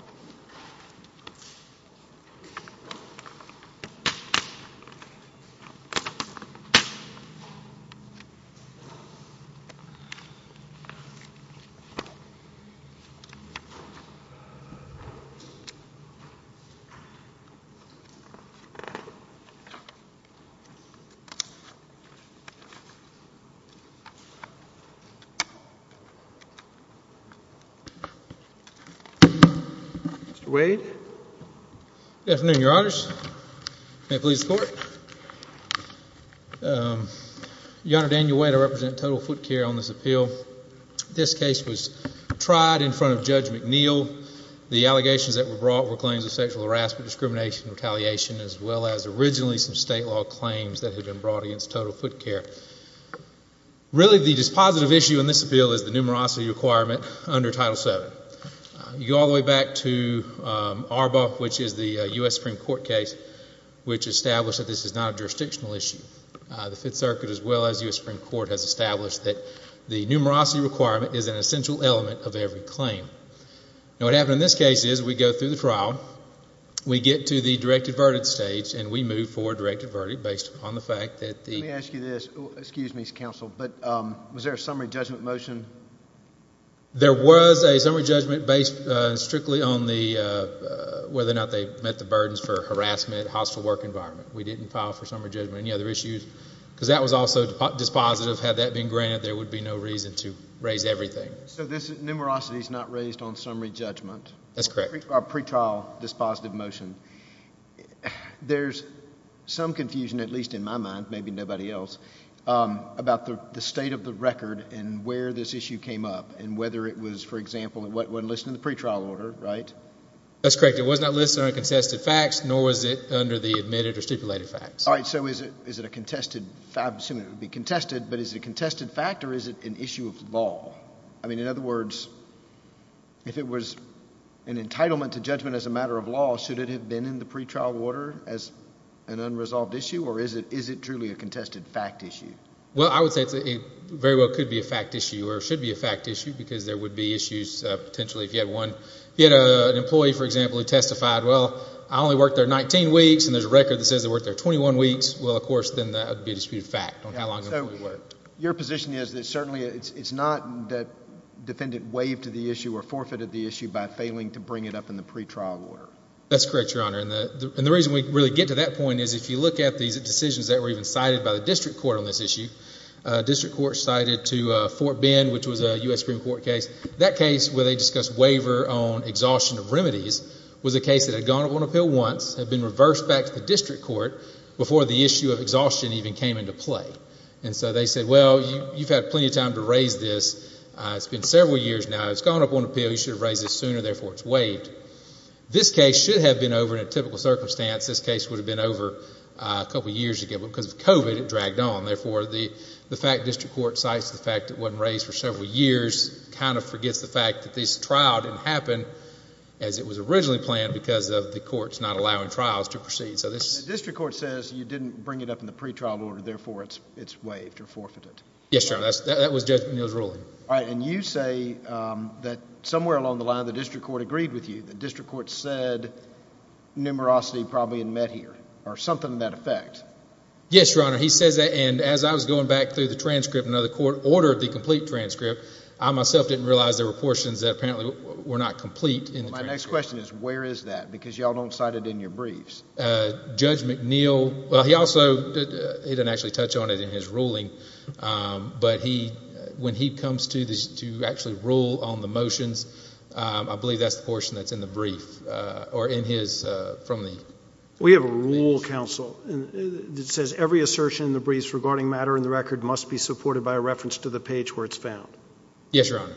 Mr. Wade. Good afternoon, Your Honors. May it please the Court. Your Honor, Daniel Wade. I represent Total Foot Care on this appeal. This case was tried in front of Judge McNeil. The allegations that were brought were claims of sexual harassment, discrimination, retaliation, as well as originally some state law claims that had been brought against Total Foot Care. Really, the dispositive issue in this appeal is the numerosity requirement under Title VII. You go all the way back to ARBA, which is the U.S. Supreme Court case, which established that this is not a jurisdictional issue. The Fifth Circuit, as well as the U.S. Supreme Court, has established that the numerosity requirement is an essential element of every claim. Now, what happened in this case is we go through the trial. We get to the directed verdict stage, and we move for a directed verdict based upon the fact that the— Let me ask you this. Excuse me, Mr. Counsel, but was there a summary judgment motion? There was a summary judgment based strictly on the— whether or not they met the burdens for harassment, hostile work environment. We didn't file for summary judgment, any other issues, because that was also dispositive. Had that been granted, there would be no reason to raise everything. So this numerosity is not raised on summary judgment? That's correct. Or pretrial dispositive motion. There's some confusion, at least in my mind, maybe nobody else, about the state of the record and where this issue came up, and whether it was, for example—it wasn't listed in the pretrial order, right? That's correct. It was not listed under the contested facts, nor was it under the admitted or stipulated facts. All right, so is it a contested—I assume it would be contested, but is it a contested fact, or is it an issue of law? I mean, in other words, if it was an entitlement to judgment as a matter of law, should it have been in the pretrial order as an unresolved issue, or is it truly a contested fact issue? Well, I would say it very well could be a fact issue or should be a fact issue, because there would be issues, potentially, if you had one. If you had an employee, for example, who testified, well, I only worked there 19 weeks, and there's a record that says they worked there 21 weeks, well, of course, then that would be a disputed fact on how long an employee worked. So your position is that certainly it's not that defendant waived the issue or forfeited the issue by failing to bring it up in the pretrial order? That's correct, Your Honor. And the reason we really get to that point is if you look at these decisions that were even cited by the district court on this issue, district court cited to Fort Bend, which was a U.S. Supreme Court case, that case where they discussed waiver on exhaustion of remedies was a case that had gone up on appeal once, had been reversed back to the district court, before the issue of exhaustion even came into play. And so they said, well, you've had plenty of time to raise this. It's been several years now. It's gone up on appeal. You should have raised this sooner. Therefore, it's waived. This case should have been over in a typical circumstance. This case would have been over a couple of years ago. But because of COVID, it dragged on. Therefore, the fact district court cites the fact it wasn't raised for several years kind of forgets the fact that this trial didn't happen as it was originally planned because of the courts not allowing trials to proceed. The district court says you didn't bring it up in the pretrial order. Therefore, it's waived or forfeited. That was Judge O'Neill's ruling. All right. And you say that somewhere along the line, the district court agreed with you. The district court said numerosity probably had met here or something to that effect. Yes, Your Honor. He says that. And as I was going back through the transcript, another court ordered the complete transcript. I myself didn't realize there were portions that apparently were not complete in the transcript. My next question is, where is that? Because y'all don't cite it in your briefs. Judge McNeill, well, he also didn't actually touch on it in his ruling. But when he comes to actually rule on the motions, I believe that's the portion that's in the brief or in his—from the— We have a rule, counsel, that says every assertion in the briefs regarding matter in the record must be supported by a reference to the page where it's found. Yes, Your Honor.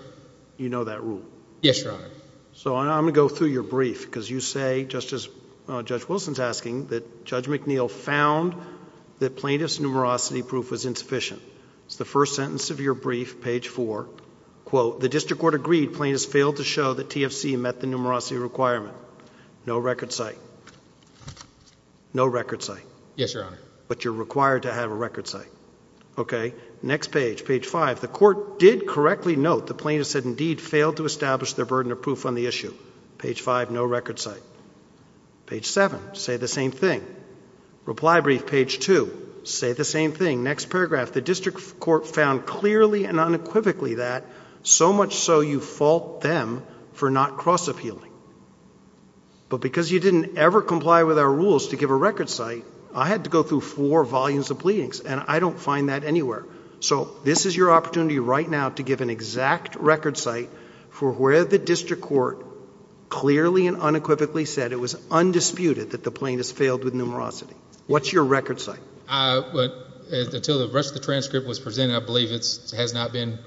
You know that rule? Yes, Your Honor. So I'm going to go through your brief because you say, just as Judge Wilson's asking, that Judge McNeill found that plaintiff's numerosity proof was insufficient. It's the first sentence of your brief, page 4. Quote, the district court agreed plaintiffs failed to show that TFC met the numerosity requirement. No record cite. No record cite. Yes, Your Honor. But you're required to have a record cite. Okay. Next page, page 5. The court did correctly note the plaintiffs had indeed failed to establish their burden of proof on the issue. Page 5, no record cite. Page 7, say the same thing. Reply brief, page 2, say the same thing. Next paragraph, the district court found clearly and unequivocally that, so much so you fault them for not cross appealing. But because you didn't ever comply with our rules to give a record cite, I had to go through four volumes of pleadings, and I don't find that anywhere. So this is your opportunity right now to give an exact record cite for where the district court clearly and unequivocally said it was undisputed that the plaintiffs failed with numerosity. What's your record cite? Until the rest of the transcript was presented, I believe it has not been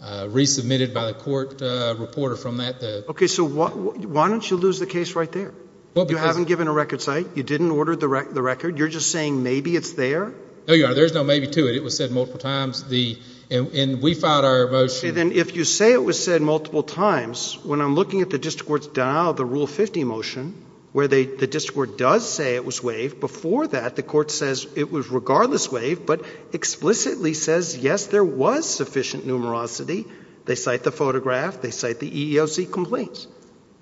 resubmitted by the court reporter from that. Okay. So why don't you lose the case right there? You haven't given a record cite. You didn't order the record. You're just saying maybe it's there. No, Your Honor. There's no maybe to it. It was said multiple times. And we filed our motion. Okay. Then if you say it was said multiple times, when I'm looking at the district court's denial of the Rule 50 motion, where the district court does say it was waived, before that the court says it was regardless waived, but explicitly says, yes, there was sufficient numerosity. They cite the photograph. They cite the EEOC complaints.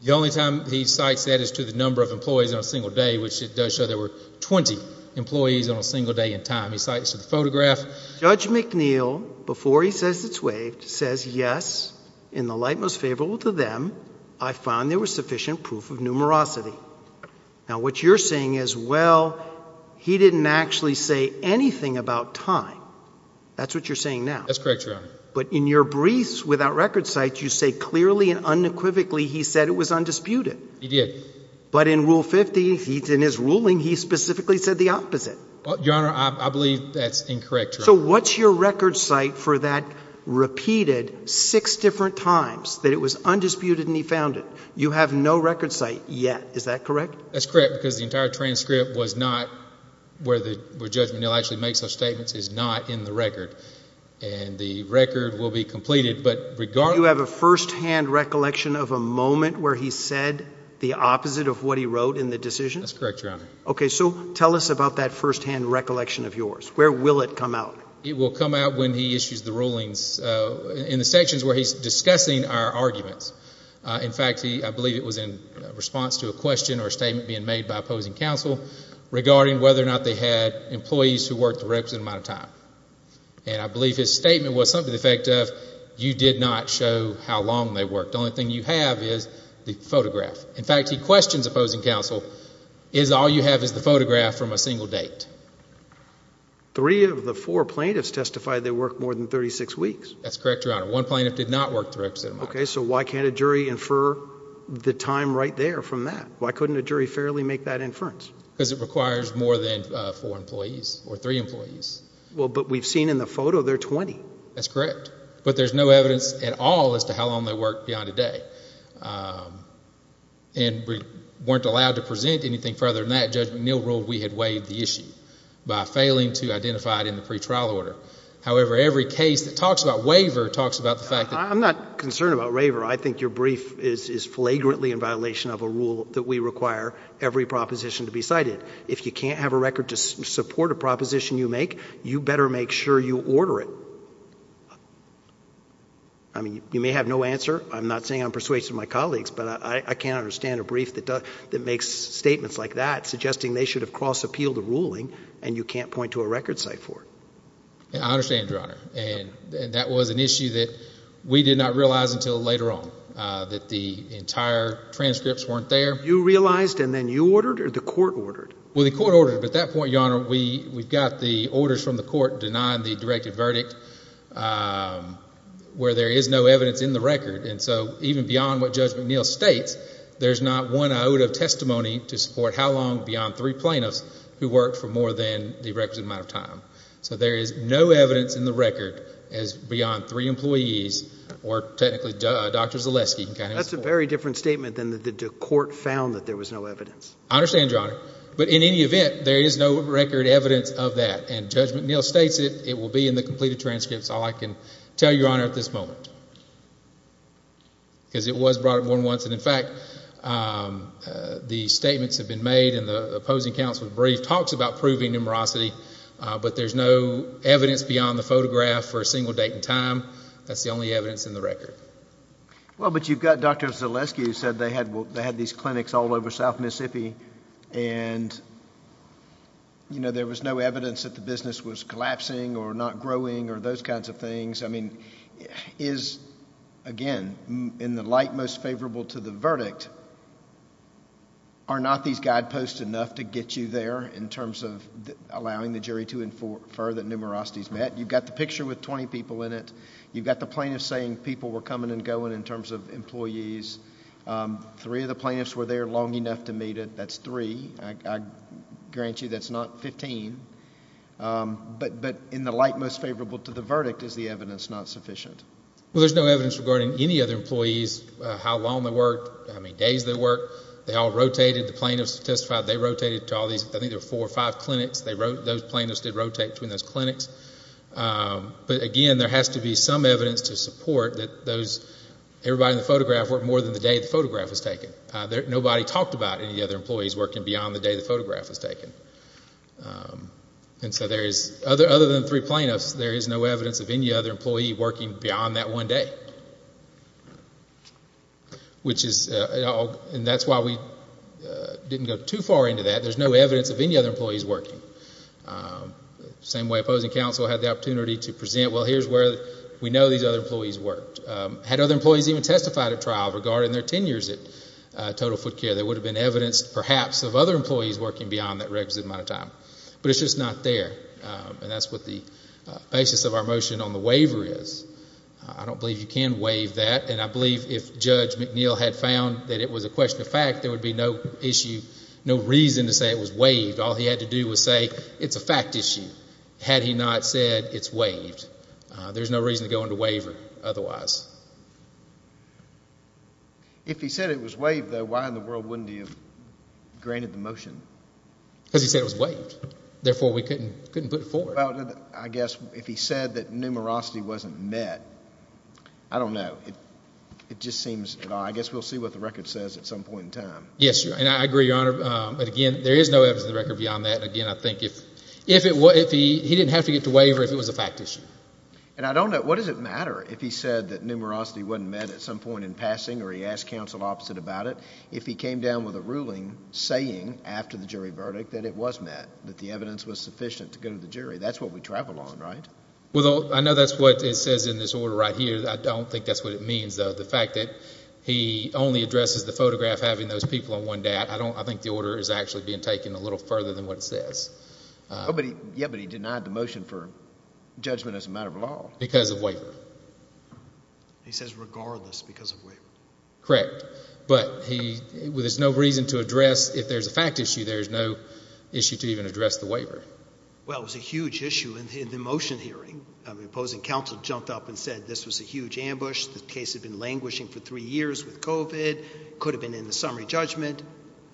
The only time he cites that is to the number of employees on a single day, which it does show there were 20 employees on a single day in time. He cites the photograph. Judge McNeil, before he says it's waived, says, yes, in the light most favorable to them, I found there was sufficient proof of numerosity. Now, what you're saying is, well, he didn't actually say anything about time. That's what you're saying now. That's correct, Your Honor. But in your briefs without record cites, you say clearly and unequivocally he said it was undisputed. He did. But in Rule 50, in his ruling, he specifically said the opposite. Well, Your Honor, I believe that's incorrect, Your Honor. So what's your record cite for that repeated six different times that it was undisputed and he found it? You have no record cite yet. Is that correct? That's correct because the entire transcript was not where Judge McNeil actually makes those statements, is not in the record, and the record will be completed. You have a firsthand recollection of a moment where he said the opposite of what he wrote in the decision? That's correct, Your Honor. Okay, so tell us about that firsthand recollection of yours. Where will it come out? It will come out when he issues the rulings in the sections where he's discussing our arguments. In fact, I believe it was in response to a question or a statement being made by opposing counsel regarding whether or not they had employees who worked the requisite amount of time. And I believe his statement was something to the effect of you did not show how long they worked. The only thing you have is the photograph. In fact, he questions opposing counsel is all you have is the photograph from a single date. Three of the four plaintiffs testified they worked more than 36 weeks. That's correct, Your Honor. One plaintiff did not work the requisite amount. Okay, so why can't a jury infer the time right there from that? Why couldn't a jury fairly make that inference? Because it requires more than four employees or three employees. Well, but we've seen in the photo they're 20. That's correct. But there's no evidence at all as to how long they worked beyond a day. And we weren't allowed to present anything further than that. Judge McNeil ruled we had waived the issue by failing to identify it in the pretrial order. However, every case that talks about waiver talks about the fact that I'm not concerned about waiver. I think your brief is flagrantly in violation of a rule that we require every proposition to be cited. If you can't have a record to support a proposition you make, you better make sure you order it. I mean, you may have no answer. I'm not saying I'm persuasive of my colleagues, but I can't understand a brief that makes statements like that suggesting they should have cross-appealed a ruling and you can't point to a record site for it. I understand, Your Honor. And that was an issue that we did not realize until later on, that the entire transcripts weren't there. You realized and then you ordered or the court ordered? Well, the court ordered. But at that point, Your Honor, we've got the orders from the court denying the directed verdict where there is no evidence in the record. And so even beyond what Judge McNeil states, there's not one iota of testimony to support how long beyond three plaintiffs who worked for more than the requisite amount of time. So there is no evidence in the record as beyond three employees or technically Dr. Zaleski. That's a very different statement than the court found that there was no evidence. I understand, Your Honor. But in any event, there is no record evidence of that. And Judge McNeil states it. It will be in the completed transcripts, all I can tell you, Your Honor, at this moment. Because it was brought up more than once. And, in fact, the statements have been made and the opposing counsel's brief talks about proving numerosity, but there's no evidence beyond the photograph for a single date and time. That's the only evidence in the record. Well, but you've got Dr. Zaleski who said they had these clinics all over South Mississippi and, you know, there was no evidence that the business was collapsing or not growing or those kinds of things. I mean, is, again, in the light most favorable to the verdict, are not these guideposts enough to get you there in terms of allowing the jury to infer that numerosity is met? You've got the picture with 20 people in it. You've got the plaintiffs saying people were coming and going in terms of employees. Three of the plaintiffs were there long enough to meet it. That's three. I grant you that's not 15. But in the light most favorable to the verdict, is the evidence not sufficient? Well, there's no evidence regarding any other employees, how long they worked, how many days they worked. They all rotated. The plaintiffs testified they rotated to all these. Those plaintiffs did rotate between those clinics. But, again, there has to be some evidence to support that everybody in the photograph worked more than the day the photograph was taken. Nobody talked about any of the other employees working beyond the day the photograph was taken. And so there is, other than three plaintiffs, there is no evidence of any other employee working beyond that one day. Which is, and that's why we didn't go too far into that. There's no evidence of any other employees working. Same way opposing counsel had the opportunity to present, well, here's where we know these other employees worked. Had other employees even testified at trial regarding their tenures at Total Foot Care, there would have been evidence, perhaps, of other employees working beyond that requisite amount of time. But it's just not there. And that's what the basis of our motion on the waiver is. I don't believe you can waive that. And I believe if Judge McNeil had found that it was a question of fact, there would be no issue, no reason to say it was waived. All he had to do was say, it's a fact issue. Had he not said it's waived, there's no reason to go into waiver otherwise. If he said it was waived, though, why in the world wouldn't he have granted the motion? Because he said it was waived. Therefore, we couldn't put it forward. Well, I guess if he said that numerosity wasn't met, I don't know. It just seems, I guess we'll see what the record says at some point in time. Yes, and I agree, Your Honor. But, again, there is no evidence in the record beyond that. Again, I think if he didn't have to get to waiver if it was a fact issue. And I don't know, what does it matter if he said that numerosity wasn't met at some point in passing or he asked counsel opposite about it, if he came down with a ruling saying after the jury verdict that it was met, that the evidence was sufficient to go to the jury? That's what we travel on, right? Well, I know that's what it says in this order right here. I don't think that's what it means, though. The fact that he only addresses the photograph having those people on one day out, I think the order is actually being taken a little further than what it says. Oh, but he denied the motion for judgment as a matter of law. Because of waiver. He says regardless because of waiver. Correct. But there's no reason to address, if there's a fact issue, there's no issue to even address the waiver. Well, it was a huge issue in the motion hearing. The opposing counsel jumped up and said this was a huge ambush. The case had been languishing for three years with COVID. It could have been in the summary judgment.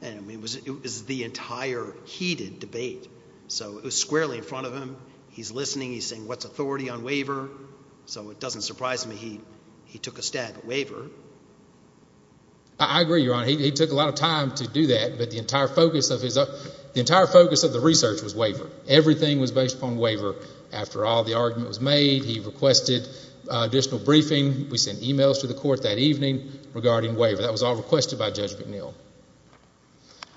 It was the entire heated debate. So it was squarely in front of him. He's listening. He's saying what's authority on waiver? So it doesn't surprise me he took a stab at waiver. I agree, Your Honor. He took a lot of time to do that, but the entire focus of the research was waiver. Everything was based upon waiver. After all the argument was made, he requested additional briefing. We sent e-mails to the court that evening regarding waiver. That was all requested by Judge McNeil.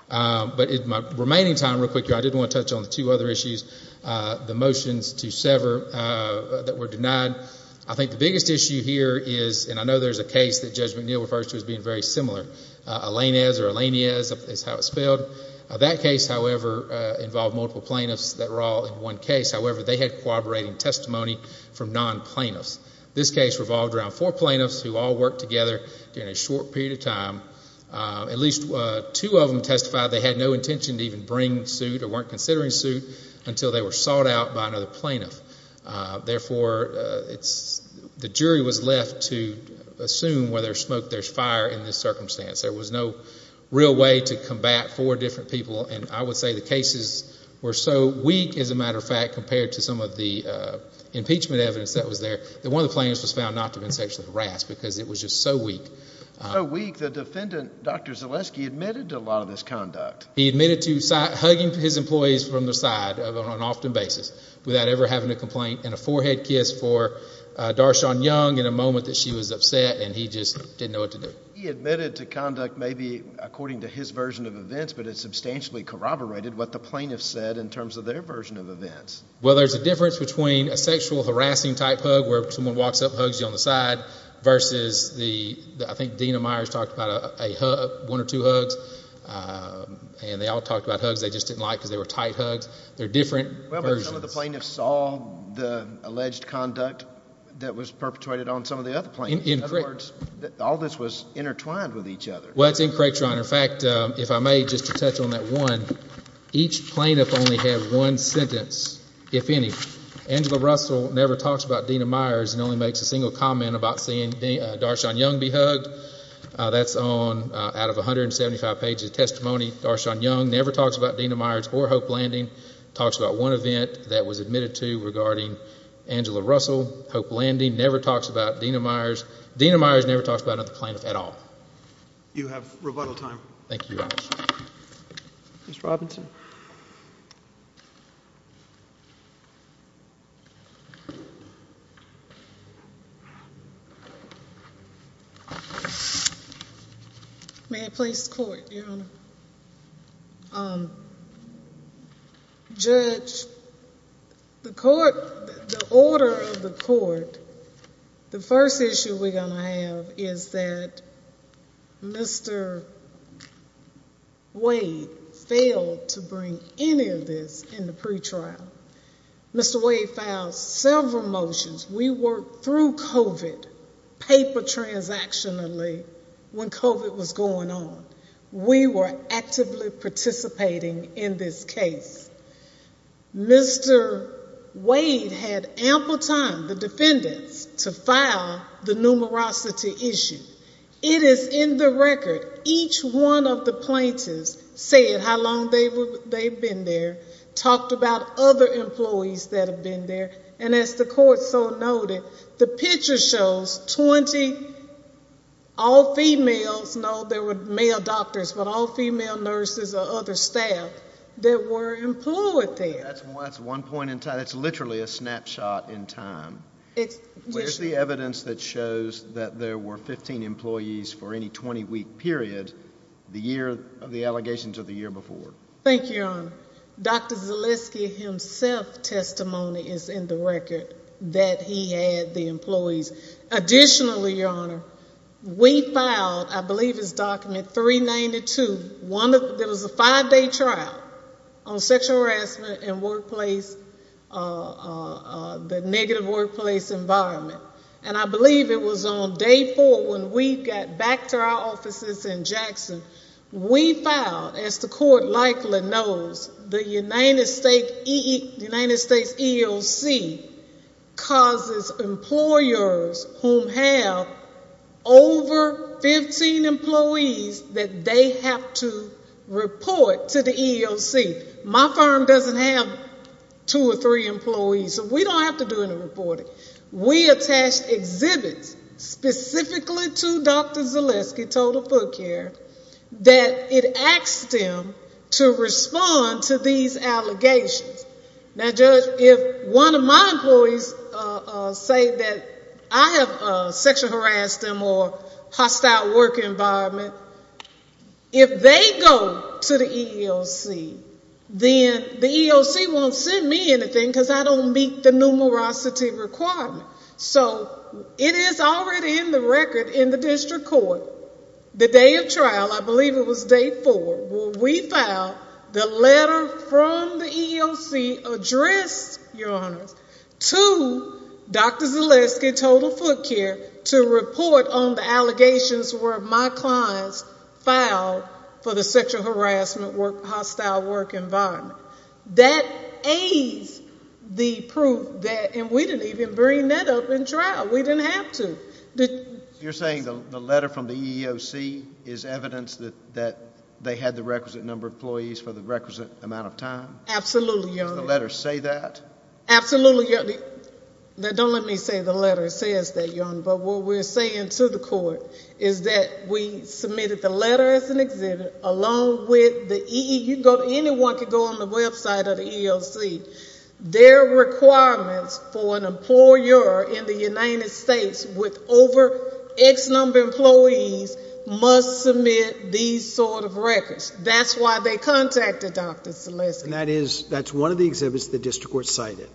But in my remaining time, real quick, I did want to touch on two other issues. The motions to sever that were denied. I think the biggest issue here is, and I know there's a case that Judge McNeil refers to as being very similar, Alanez or Alaneez is how it's spelled. That case, however, involved multiple plaintiffs that were all in one case. However, they had corroborating testimony from non-plaintiffs. This case revolved around four plaintiffs who all worked together during a short period of time. At least two of them testified they had no intention to even bring suit or weren't considering suit until they were sought out by another plaintiff. Therefore, the jury was left to assume whether there's smoke, there's fire in this circumstance. There was no real way to combat four different people, and I would say the cases were so weak, as a matter of fact, compared to some of the impeachment evidence that was there, that one of the plaintiffs was found not to have been sexually harassed because it was just so weak. So weak the defendant, Dr. Zaleski, admitted to a lot of this conduct. He admitted to hugging his employees from the side on an often basis without ever having to complain, and a forehead kiss for Darshawn Young in a moment that she was upset and he just didn't know what to do. He admitted to conduct maybe according to his version of events, but it substantially corroborated what the plaintiffs said in terms of their version of events. Well, there's a difference between a sexual harassing type hug where someone walks up and hugs you on the side versus the – I think Dena Myers talked about one or two hugs, and they all talked about hugs they just didn't like because they were tight hugs. They're different versions. Well, but some of the plaintiffs saw the alleged conduct that was perpetrated on some of the other plaintiffs. In other words, all this was intertwined with each other. Well, that's incorrect, Your Honor. In fact, if I may, just to touch on that one, each plaintiff only had one sentence, if any. Angela Russell never talks about Dena Myers and only makes a single comment about seeing Darshawn Young be hugged. That's out of 175 pages of testimony. Darshawn Young never talks about Dena Myers or Hope Landing, talks about one event that was admitted to regarding Angela Russell, Hope Landing, never talks about Dena Myers. Dena Myers never talks about another plaintiff at all. You have rebuttal time. Thank you, Your Honor. Ms. Robinson. May I please court, Your Honor? Judge, the court, the order of the court, the first issue we're going to have is that Mr. Wade failed to bring any of this in the pretrial. Mr. Wade filed several motions. We worked through COVID, paper transactionally, when COVID was going on. We were actively participating in this case. Mr. Wade had ample time, the defendants, to file the numerosity issue. It is in the record. Each one of the plaintiffs said how long they've been there, talked about other employees that have been there, and as the court so noted, the picture shows 20 all females. No, there were male doctors, but all female nurses or other staff that were employed there. That's one point in time. That's literally a snapshot in time. Where's the evidence that shows that there were 15 employees for any 20-week period the year of the allegations or the year before? Thank you, Your Honor. Dr. Zaleski himself's testimony is in the record that he had the employees. Additionally, Your Honor, we filed, I believe it's document 392, there was a five-day trial on sexual harassment in the negative workplace environment, and I believe it was on day four when we got back to our offices in Jackson. We filed, as the court likely knows, the United States EEOC causes employers who have over 15 employees that they have to report to the EEOC. My firm doesn't have two or three employees, so we don't have to do any reporting. We attached exhibits specifically to Dr. Zaleski, Total Foot Care, that it asked them to respond to these allegations. Now, Judge, if one of my employees say that I have sexual harassed them or hostile work environment, if they go to the EEOC, then the EEOC won't send me anything because I don't meet the numerosity requirement. So it is already in the record in the district court, the day of trial, I believe it was day four, where we filed the letter from the EEOC addressed, Your Honor, to Dr. Zaleski, Total Foot Care, to report on the allegations where my clients filed for the sexual harassment hostile work environment. That aids the proof that, and we didn't even bring that up in trial. We didn't have to. You're saying the letter from the EEOC is evidence that they had the requisite number of employees for the requisite amount of time? Absolutely, Your Honor. Does the letter say that? Absolutely, Your Honor. Now, don't let me say the letter says that, Your Honor, but what we're saying to the court is that we submitted the letter as an exhibit along with the EEOC. Anyone can go on the website of the EEOC. Their requirements for an employer in the United States with over X number of employees must submit these sort of records. That's why they contacted Dr. Zaleski. And that's one of the exhibits the district court cited?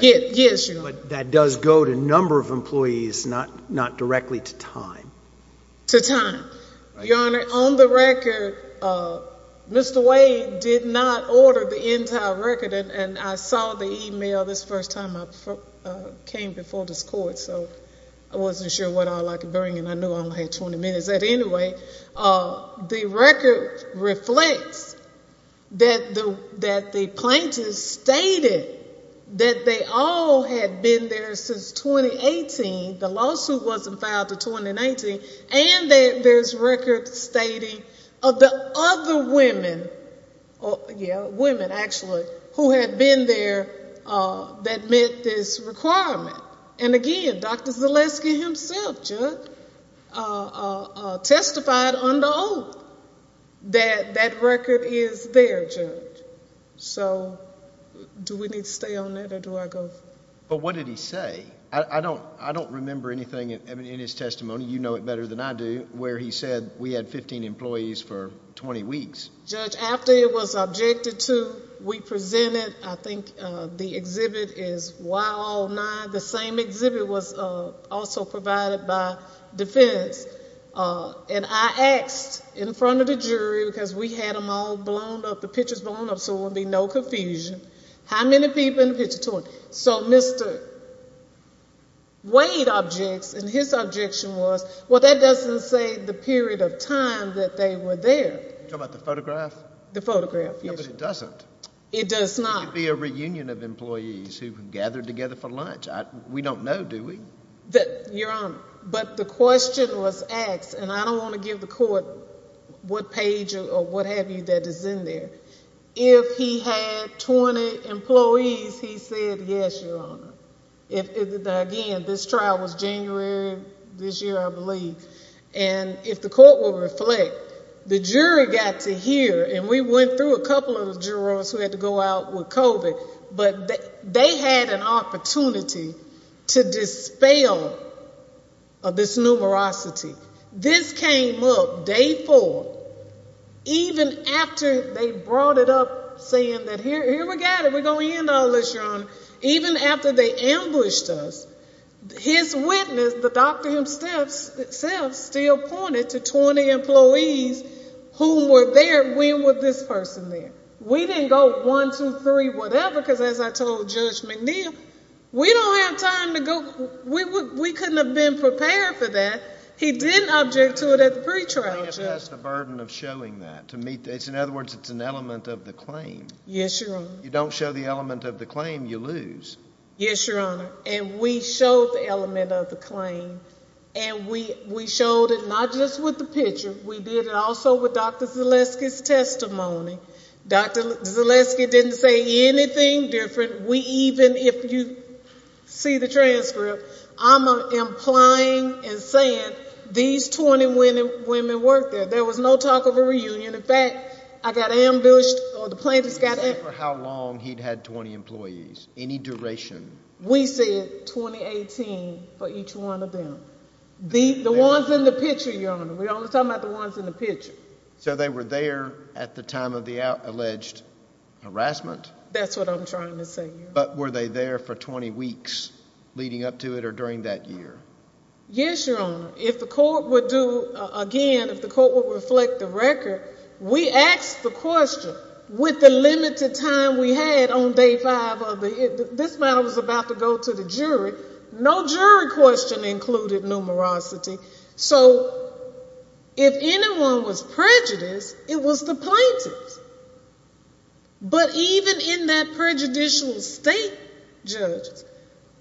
Yes, Your Honor. But that does go to number of employees, not directly to time? To time. Your Honor, on the record, Mr. Wade did not order the entire record, and I saw the e-mail this first time I came before this court, so I wasn't sure what all I could bring, and I knew I only had 20 minutes. The record reflects that the plaintiffs stated that they all had been there since 2018, the lawsuit wasn't filed until 2019, and there's records stating of the other women, yeah, women, actually, who had been there that met this requirement. And again, Dr. Zaleski himself, Judge, testified under oath that that record is there, Judge. So do we need to stay on that or do I go? But what did he say? I don't remember anything in his testimony, you know it better than I do, where he said we had 15 employees for 20 weeks. Judge, after it was objected to, we presented, I think the exhibit is Why All Nine, the same exhibit was also provided by defense, and I asked in front of the jury, because we had them all blown up, the pictures blown up so there would be no confusion, how many people in the picture? So Mr. Wade objects, and his objection was, well, that doesn't say the period of time that they were there. You're talking about the photograph? The photograph, yes. No, but it doesn't. It does not. It could be a reunion of employees who gathered together for lunch. We don't know, do we? Your Honor, but the question was asked, and I don't want to give the court what page or what have you that is in there. If he had 20 employees, he said yes, Your Honor. Again, this trial was January this year, I believe. And if the court will reflect, the jury got to hear, and we went through a couple of jurors who had to go out with COVID, but they had an opportunity to dispel this numerosity. This came up day four, even after they brought it up saying that here we got it, even after they ambushed us. His witness, the doctor himself, still pointed to 20 employees who were there. When was this person there? We didn't go one, two, three, whatever, because as I told Judge McNeil, we don't have time to go. We couldn't have been prepared for that. He didn't object to it at the pretrial. I think that's the burden of showing that. In other words, it's an element of the claim. Yes, Your Honor. You don't show the element of the claim, you lose. Yes, Your Honor. And we showed the element of the claim. And we showed it not just with the picture. We did it also with Dr. Zaleski's testimony. Dr. Zaleski didn't say anything different. Even if you see the transcript, I'm implying and saying these 20 women worked there. There was no talk of a reunion. And, in fact, I got ambushed or the plaintiffs got ambushed. He didn't say for how long he'd had 20 employees, any duration. We said 2018 for each one of them. The ones in the picture, Your Honor. We're only talking about the ones in the picture. So they were there at the time of the alleged harassment? That's what I'm trying to say, Your Honor. But were they there for 20 weeks leading up to it or during that year? Yes, Your Honor. If the court would do again, if the court would reflect the record, we asked the question. With the limited time we had on day five, this matter was about to go to the jury. No jury question included numerosity. So if anyone was prejudiced, it was the plaintiffs. But even in that prejudicial state, Judge,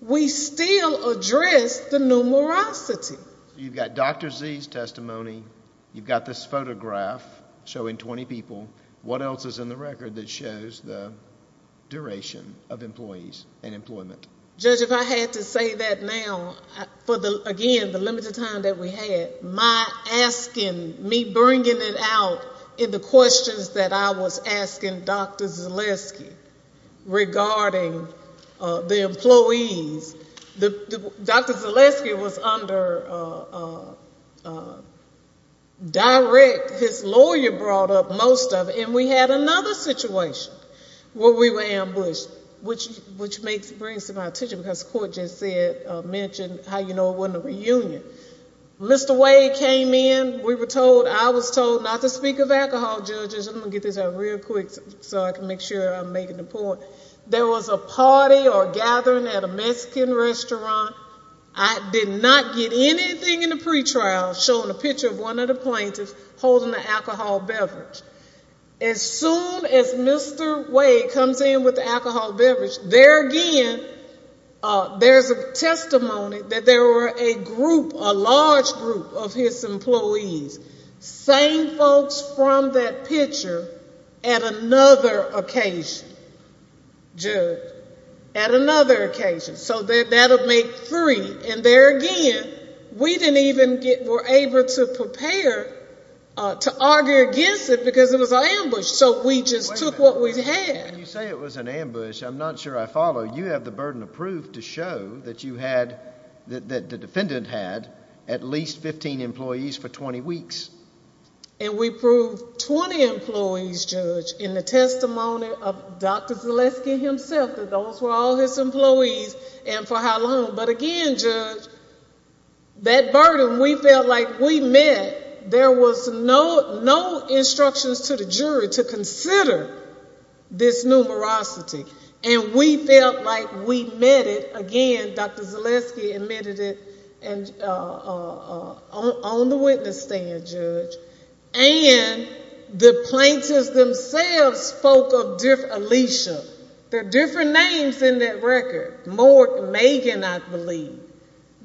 we still addressed the numerosity. You've got Dr. Z's testimony. You've got this photograph showing 20 people. What else is in the record that shows the duration of employees and employment? Judge, if I had to say that now for, again, the limited time that we had, my asking, me bringing it out in the questions that I was asking Dr. Zaleski regarding the employees, Dr. Zaleski was under direct. His lawyer brought up most of it. And we had another situation where we were ambushed, which brings to my attention, because the court just mentioned how you know it wasn't a reunion. Mr. Wade came in. We were told, I was told not to speak of alcohol, judges. I'm going to get this out real quick so I can make sure I'm making the point. There was a party or gathering at a Mexican restaurant. I did not get anything in the pretrial showing a picture of one of the plaintiffs holding an alcohol beverage. As soon as Mr. Wade comes in with the alcohol beverage, there again, there's a testimony that there were a group, a large group of his employees, saying folks from that picture at another occasion, judge, at another occasion. So that would make three. And there again, we didn't even get more able to prepare to argue against it because it was an ambush. So we just took what we had. When you say it was an ambush, I'm not sure I follow. You have the burden of proof to show that you had, that the defendant had at least 15 employees for 20 weeks. And we proved 20 employees, judge, in the testimony of Dr. Zaleski himself, that those were all his employees and for how long. But again, judge, that burden, we felt like we met. There was no instructions to the jury to consider this numerosity. And we felt like we met it again. Dr. Zaleski admitted it on the witness stand, judge. And the plaintiffs themselves spoke of Alicia. There are different names in that record. More Megan, I believe.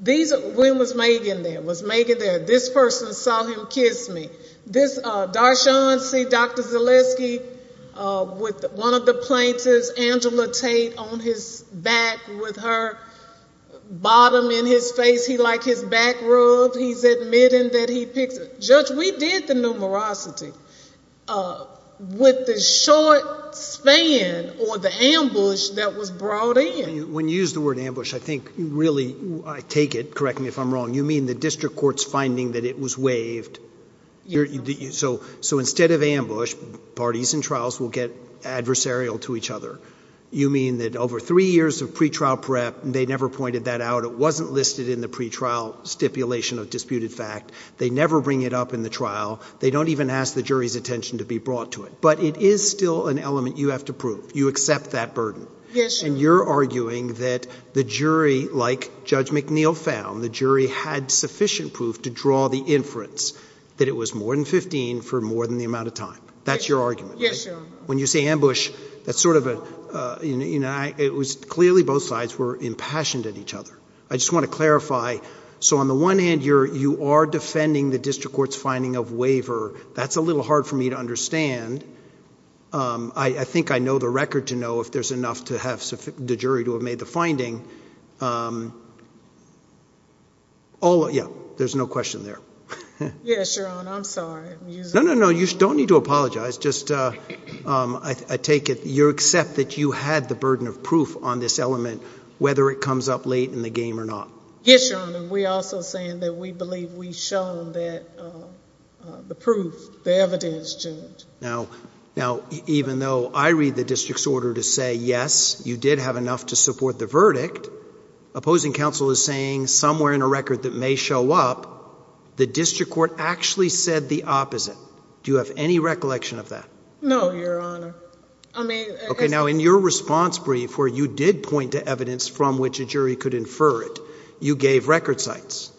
When was Megan there? Was Megan there? This person saw him kiss me. Darshon, see Dr. Zaleski with one of the plaintiffs, Angela Tate on his back with her bottom in his face. He like his back rubbed. He's admitting that he picked her. Judge, we did the numerosity with the short span or the ambush that was brought in. When you use the word ambush, I think really, I take it, correct me if I'm wrong, you mean the district court's finding that it was waived. So instead of ambush, parties and trials will get adversarial to each other. You mean that over three years of pretrial prep, they never pointed that out. It wasn't listed in the pretrial stipulation of disputed fact. They never bring it up in the trial. They don't even ask the jury's attention to be brought to it. But it is still an element you have to prove. You accept that burden. Yes, sir. And you're arguing that the jury, like Judge McNeil found, the jury had sufficient proof to draw the inference that it was more than 15 for more than the amount of time. That's your argument. Yes, sir. When you say ambush, that's sort of a, you know, it was clearly both sides were impassioned at each other. I just want to clarify, so on the one hand, you are defending the district court's finding of waiver. That's a little hard for me to understand. I think I know the record to know if there's enough to have the jury to have made the finding. Yeah, there's no question there. Yes, Your Honor. I'm sorry. No, no, no. You don't need to apologize. I take it you accept that you had the burden of proof on this element, whether it comes up late in the game or not. Yes, Your Honor. We're also saying that we believe we've shown that the proof, the evidence, Judge. Now, even though I read the district's order to say, yes, you did have enough to support the verdict, opposing counsel is saying somewhere in a record that may show up, the district court actually said the opposite. Do you have any recollection of that? No, Your Honor. Okay, now in your response brief where you did point to evidence from which a jury could infer it, you gave record sites,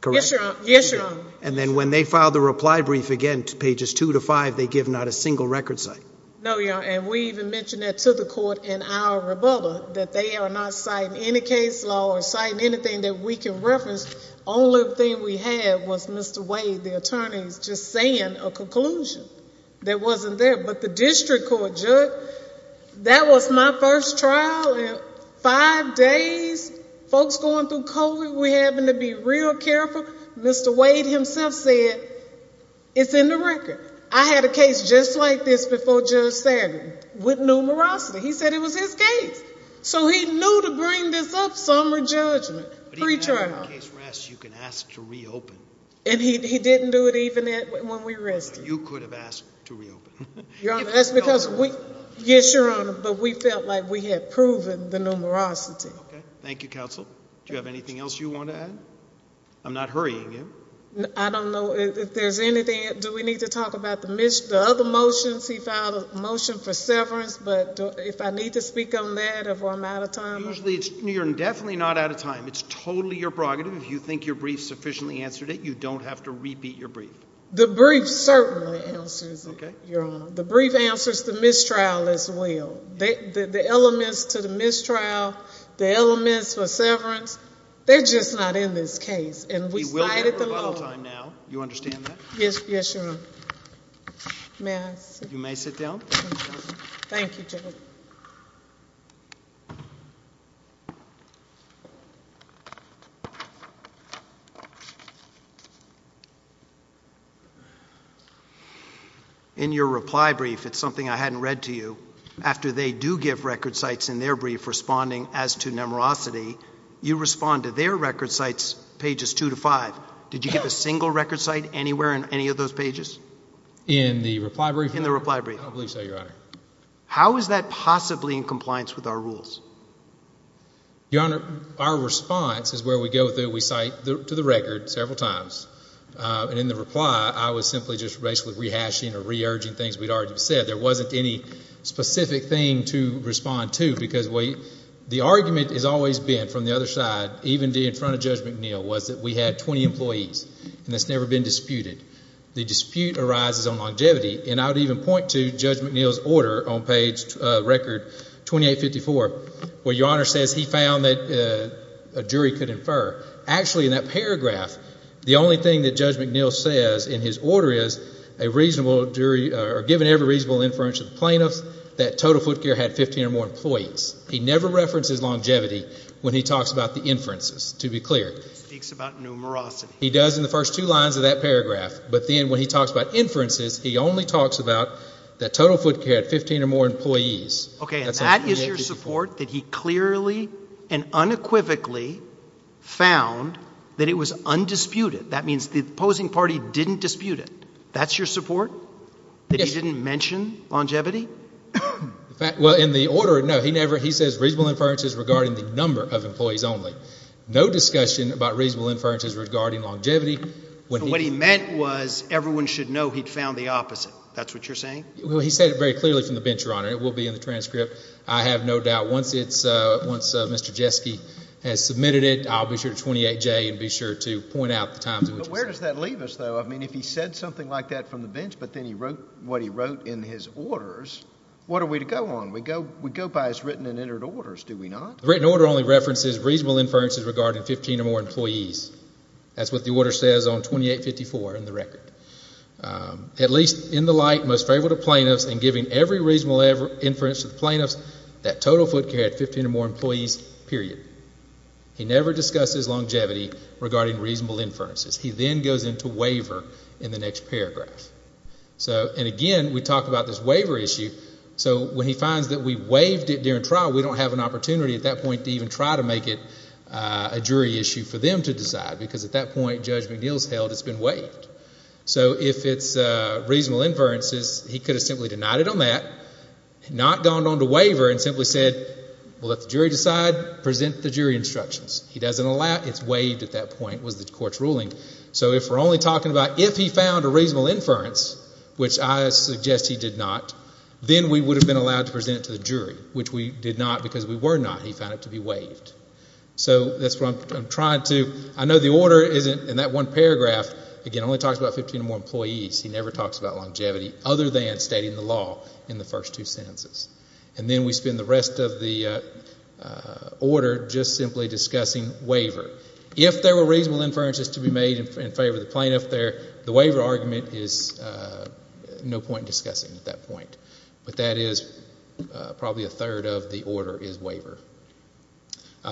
correct? Yes, Your Honor. And then when they filed the reply brief again, pages two to five, they give not a single record site. No, Your Honor, and we even mentioned that to the court in our rebuttal that they are not citing any case law or citing anything that we can reference. Only thing we had was Mr. Wade, the attorney, just saying a conclusion that wasn't there. But the district court, Judge, that was my first trial in five days. Folks going through COVID, we're having to be real careful. Mr. Wade himself said, it's in the record. I had a case just like this before Judge Satin with numerosity. He said it was his case. If the case rests, you can ask to reopen. And he didn't do it even when we rested. You could have asked to reopen. Your Honor, that's because we, yes, Your Honor, but we felt like we had proven the numerosity. Okay, thank you, counsel. Do you have anything else you want to add? I'm not hurrying you. I don't know if there's anything, do we need to talk about the other motions? He filed a motion for severance, but if I need to speak on that or if I'm out of time? You're definitely not out of time. It's totally your prerogative. If you think your brief sufficiently answered it, you don't have to repeat your brief. The brief certainly answers it, Your Honor. The brief answers the mistrial as well. The elements to the mistrial, the elements for severance, they're just not in this case. And we cited the law. We will have rebuttal time now. You understand that? May I sit down? You may sit down. Thank you, Judge. In your reply brief, it's something I hadn't read to you. After they do give record cites in their brief responding as to numerosity, you respond to their record cites pages 2 to 5. Did you give a single record cite anywhere in any of those pages? In the reply brief? In the reply brief. I believe so, Your Honor. How is that possibly in compliance with our rules? Your Honor, our response is where we go through, we cite to the record several times. And in the reply, I was simply just basically rehashing or re-urging things we'd already said. There wasn't any specific thing to respond to because the argument has always been from the other side, even in front of Judge McNeil, was that we had 20 employees, and that's never been disputed. The dispute arises on longevity. And I would even point to Judge McNeil's order on page record 2854 where Your Honor says he found that a jury could infer. Actually, in that paragraph, the only thing that Judge McNeil says in his order is a reasonable jury or given every reasonable inference of the plaintiffs, that total foot care had 15 or more employees. He never references longevity when he talks about the inferences, to be clear. He speaks about numerosity. He does in the first two lines of that paragraph. But then when he talks about inferences, he only talks about the total foot care had 15 or more employees. Okay, and that is your support that he clearly and unequivocally found that it was undisputed. That means the opposing party didn't dispute it. That's your support? Yes. That he didn't mention longevity? Well, in the order, no. He says reasonable inferences regarding the number of employees only. No discussion about reasonable inferences regarding longevity. What he meant was everyone should know he'd found the opposite. That's what you're saying? Well, he said it very clearly from the bench, Your Honor. It will be in the transcript, I have no doubt. Once Mr. Jeske has submitted it, I'll be sure to 28J and be sure to point out the times in which he said it. But where does that leave us, though? I mean, if he said something like that from the bench but then he wrote what he wrote in his orders, what are we to go on? We go by his written and entered orders, do we not? The written order only references reasonable inferences regarding 15 or more employees. That's what the order says on 2854 in the record. At least in the light most favorable to plaintiffs and giving every reasonable inference to the plaintiffs, that total foot carry had 15 or more employees, period. He never discussed his longevity regarding reasonable inferences. He then goes into waiver in the next paragraph. And, again, we talk about this waiver issue. So when he finds that we waived it during trial, we don't have an opportunity at that point to even try to make it a jury issue for them to decide because at that point Judge McNeil has held it's been waived. So if it's reasonable inferences, he could have simply denied it on that, not gone on to waiver and simply said, well, let the jury decide, present the jury instructions. He doesn't allow it. It's waived at that point, was the court's ruling. So if we're only talking about if he found a reasonable inference, which I suggest he did not, then we would have been allowed to present it to the jury, which we did not because we were not. He found it to be waived. So that's what I'm trying to do. I know the order isn't in that one paragraph. Again, it only talks about 15 or more employees. He never talks about longevity other than stating the law in the first two sentences. And then we spend the rest of the order just simply discussing waiver. If there were reasonable inferences to be made in favor of the plaintiff there, the waiver argument is no point discussing at that point. But that is probably a third of the order is waiver.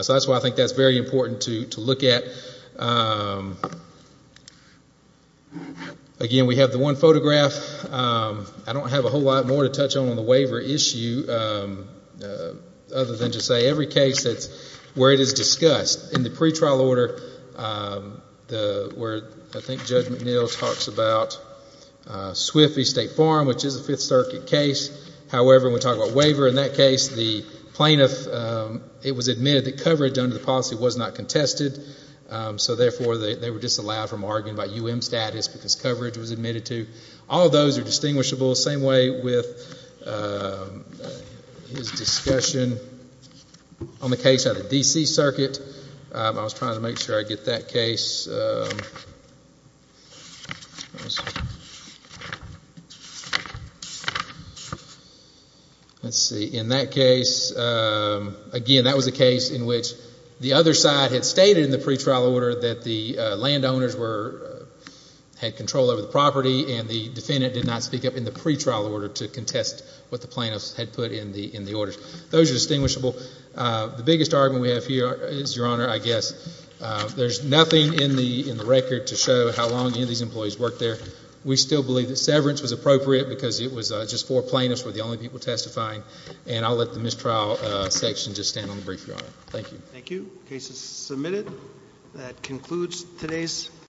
So that's why I think that's very important to look at. Again, we have the one photograph. I don't have a whole lot more to touch on on the waiver issue other than to say every case where it is discussed. In the pretrial order where I think Judge McNeil talks about Swift v. State Farm, which is a Fifth Circuit case. However, when we talk about waiver in that case, the plaintiff, it was admitted that coverage under the policy was not contested, so therefore they were disallowed from arguing about U.M. status because coverage was admitted to. All of those are distinguishable. Same way with his discussion on the case of the D.C. Circuit. I was trying to make sure I get that case. Let's see. In that case, again, that was a case in which the other side had stated in the pretrial order that the landowners had control over the property, and the defendant did not speak up in the pretrial order to contest what the plaintiffs had put in the order. Those are distinguishable. The biggest argument we have here is, Your Honor, I guess there's nothing in the record to show how long any of these employees worked there. We still believe that severance was appropriate because it was just four plaintiffs were the only people testifying, and I'll let the mistrial section just stand on the brief, Your Honor. Thank you. The case is submitted. That concludes today's hearing.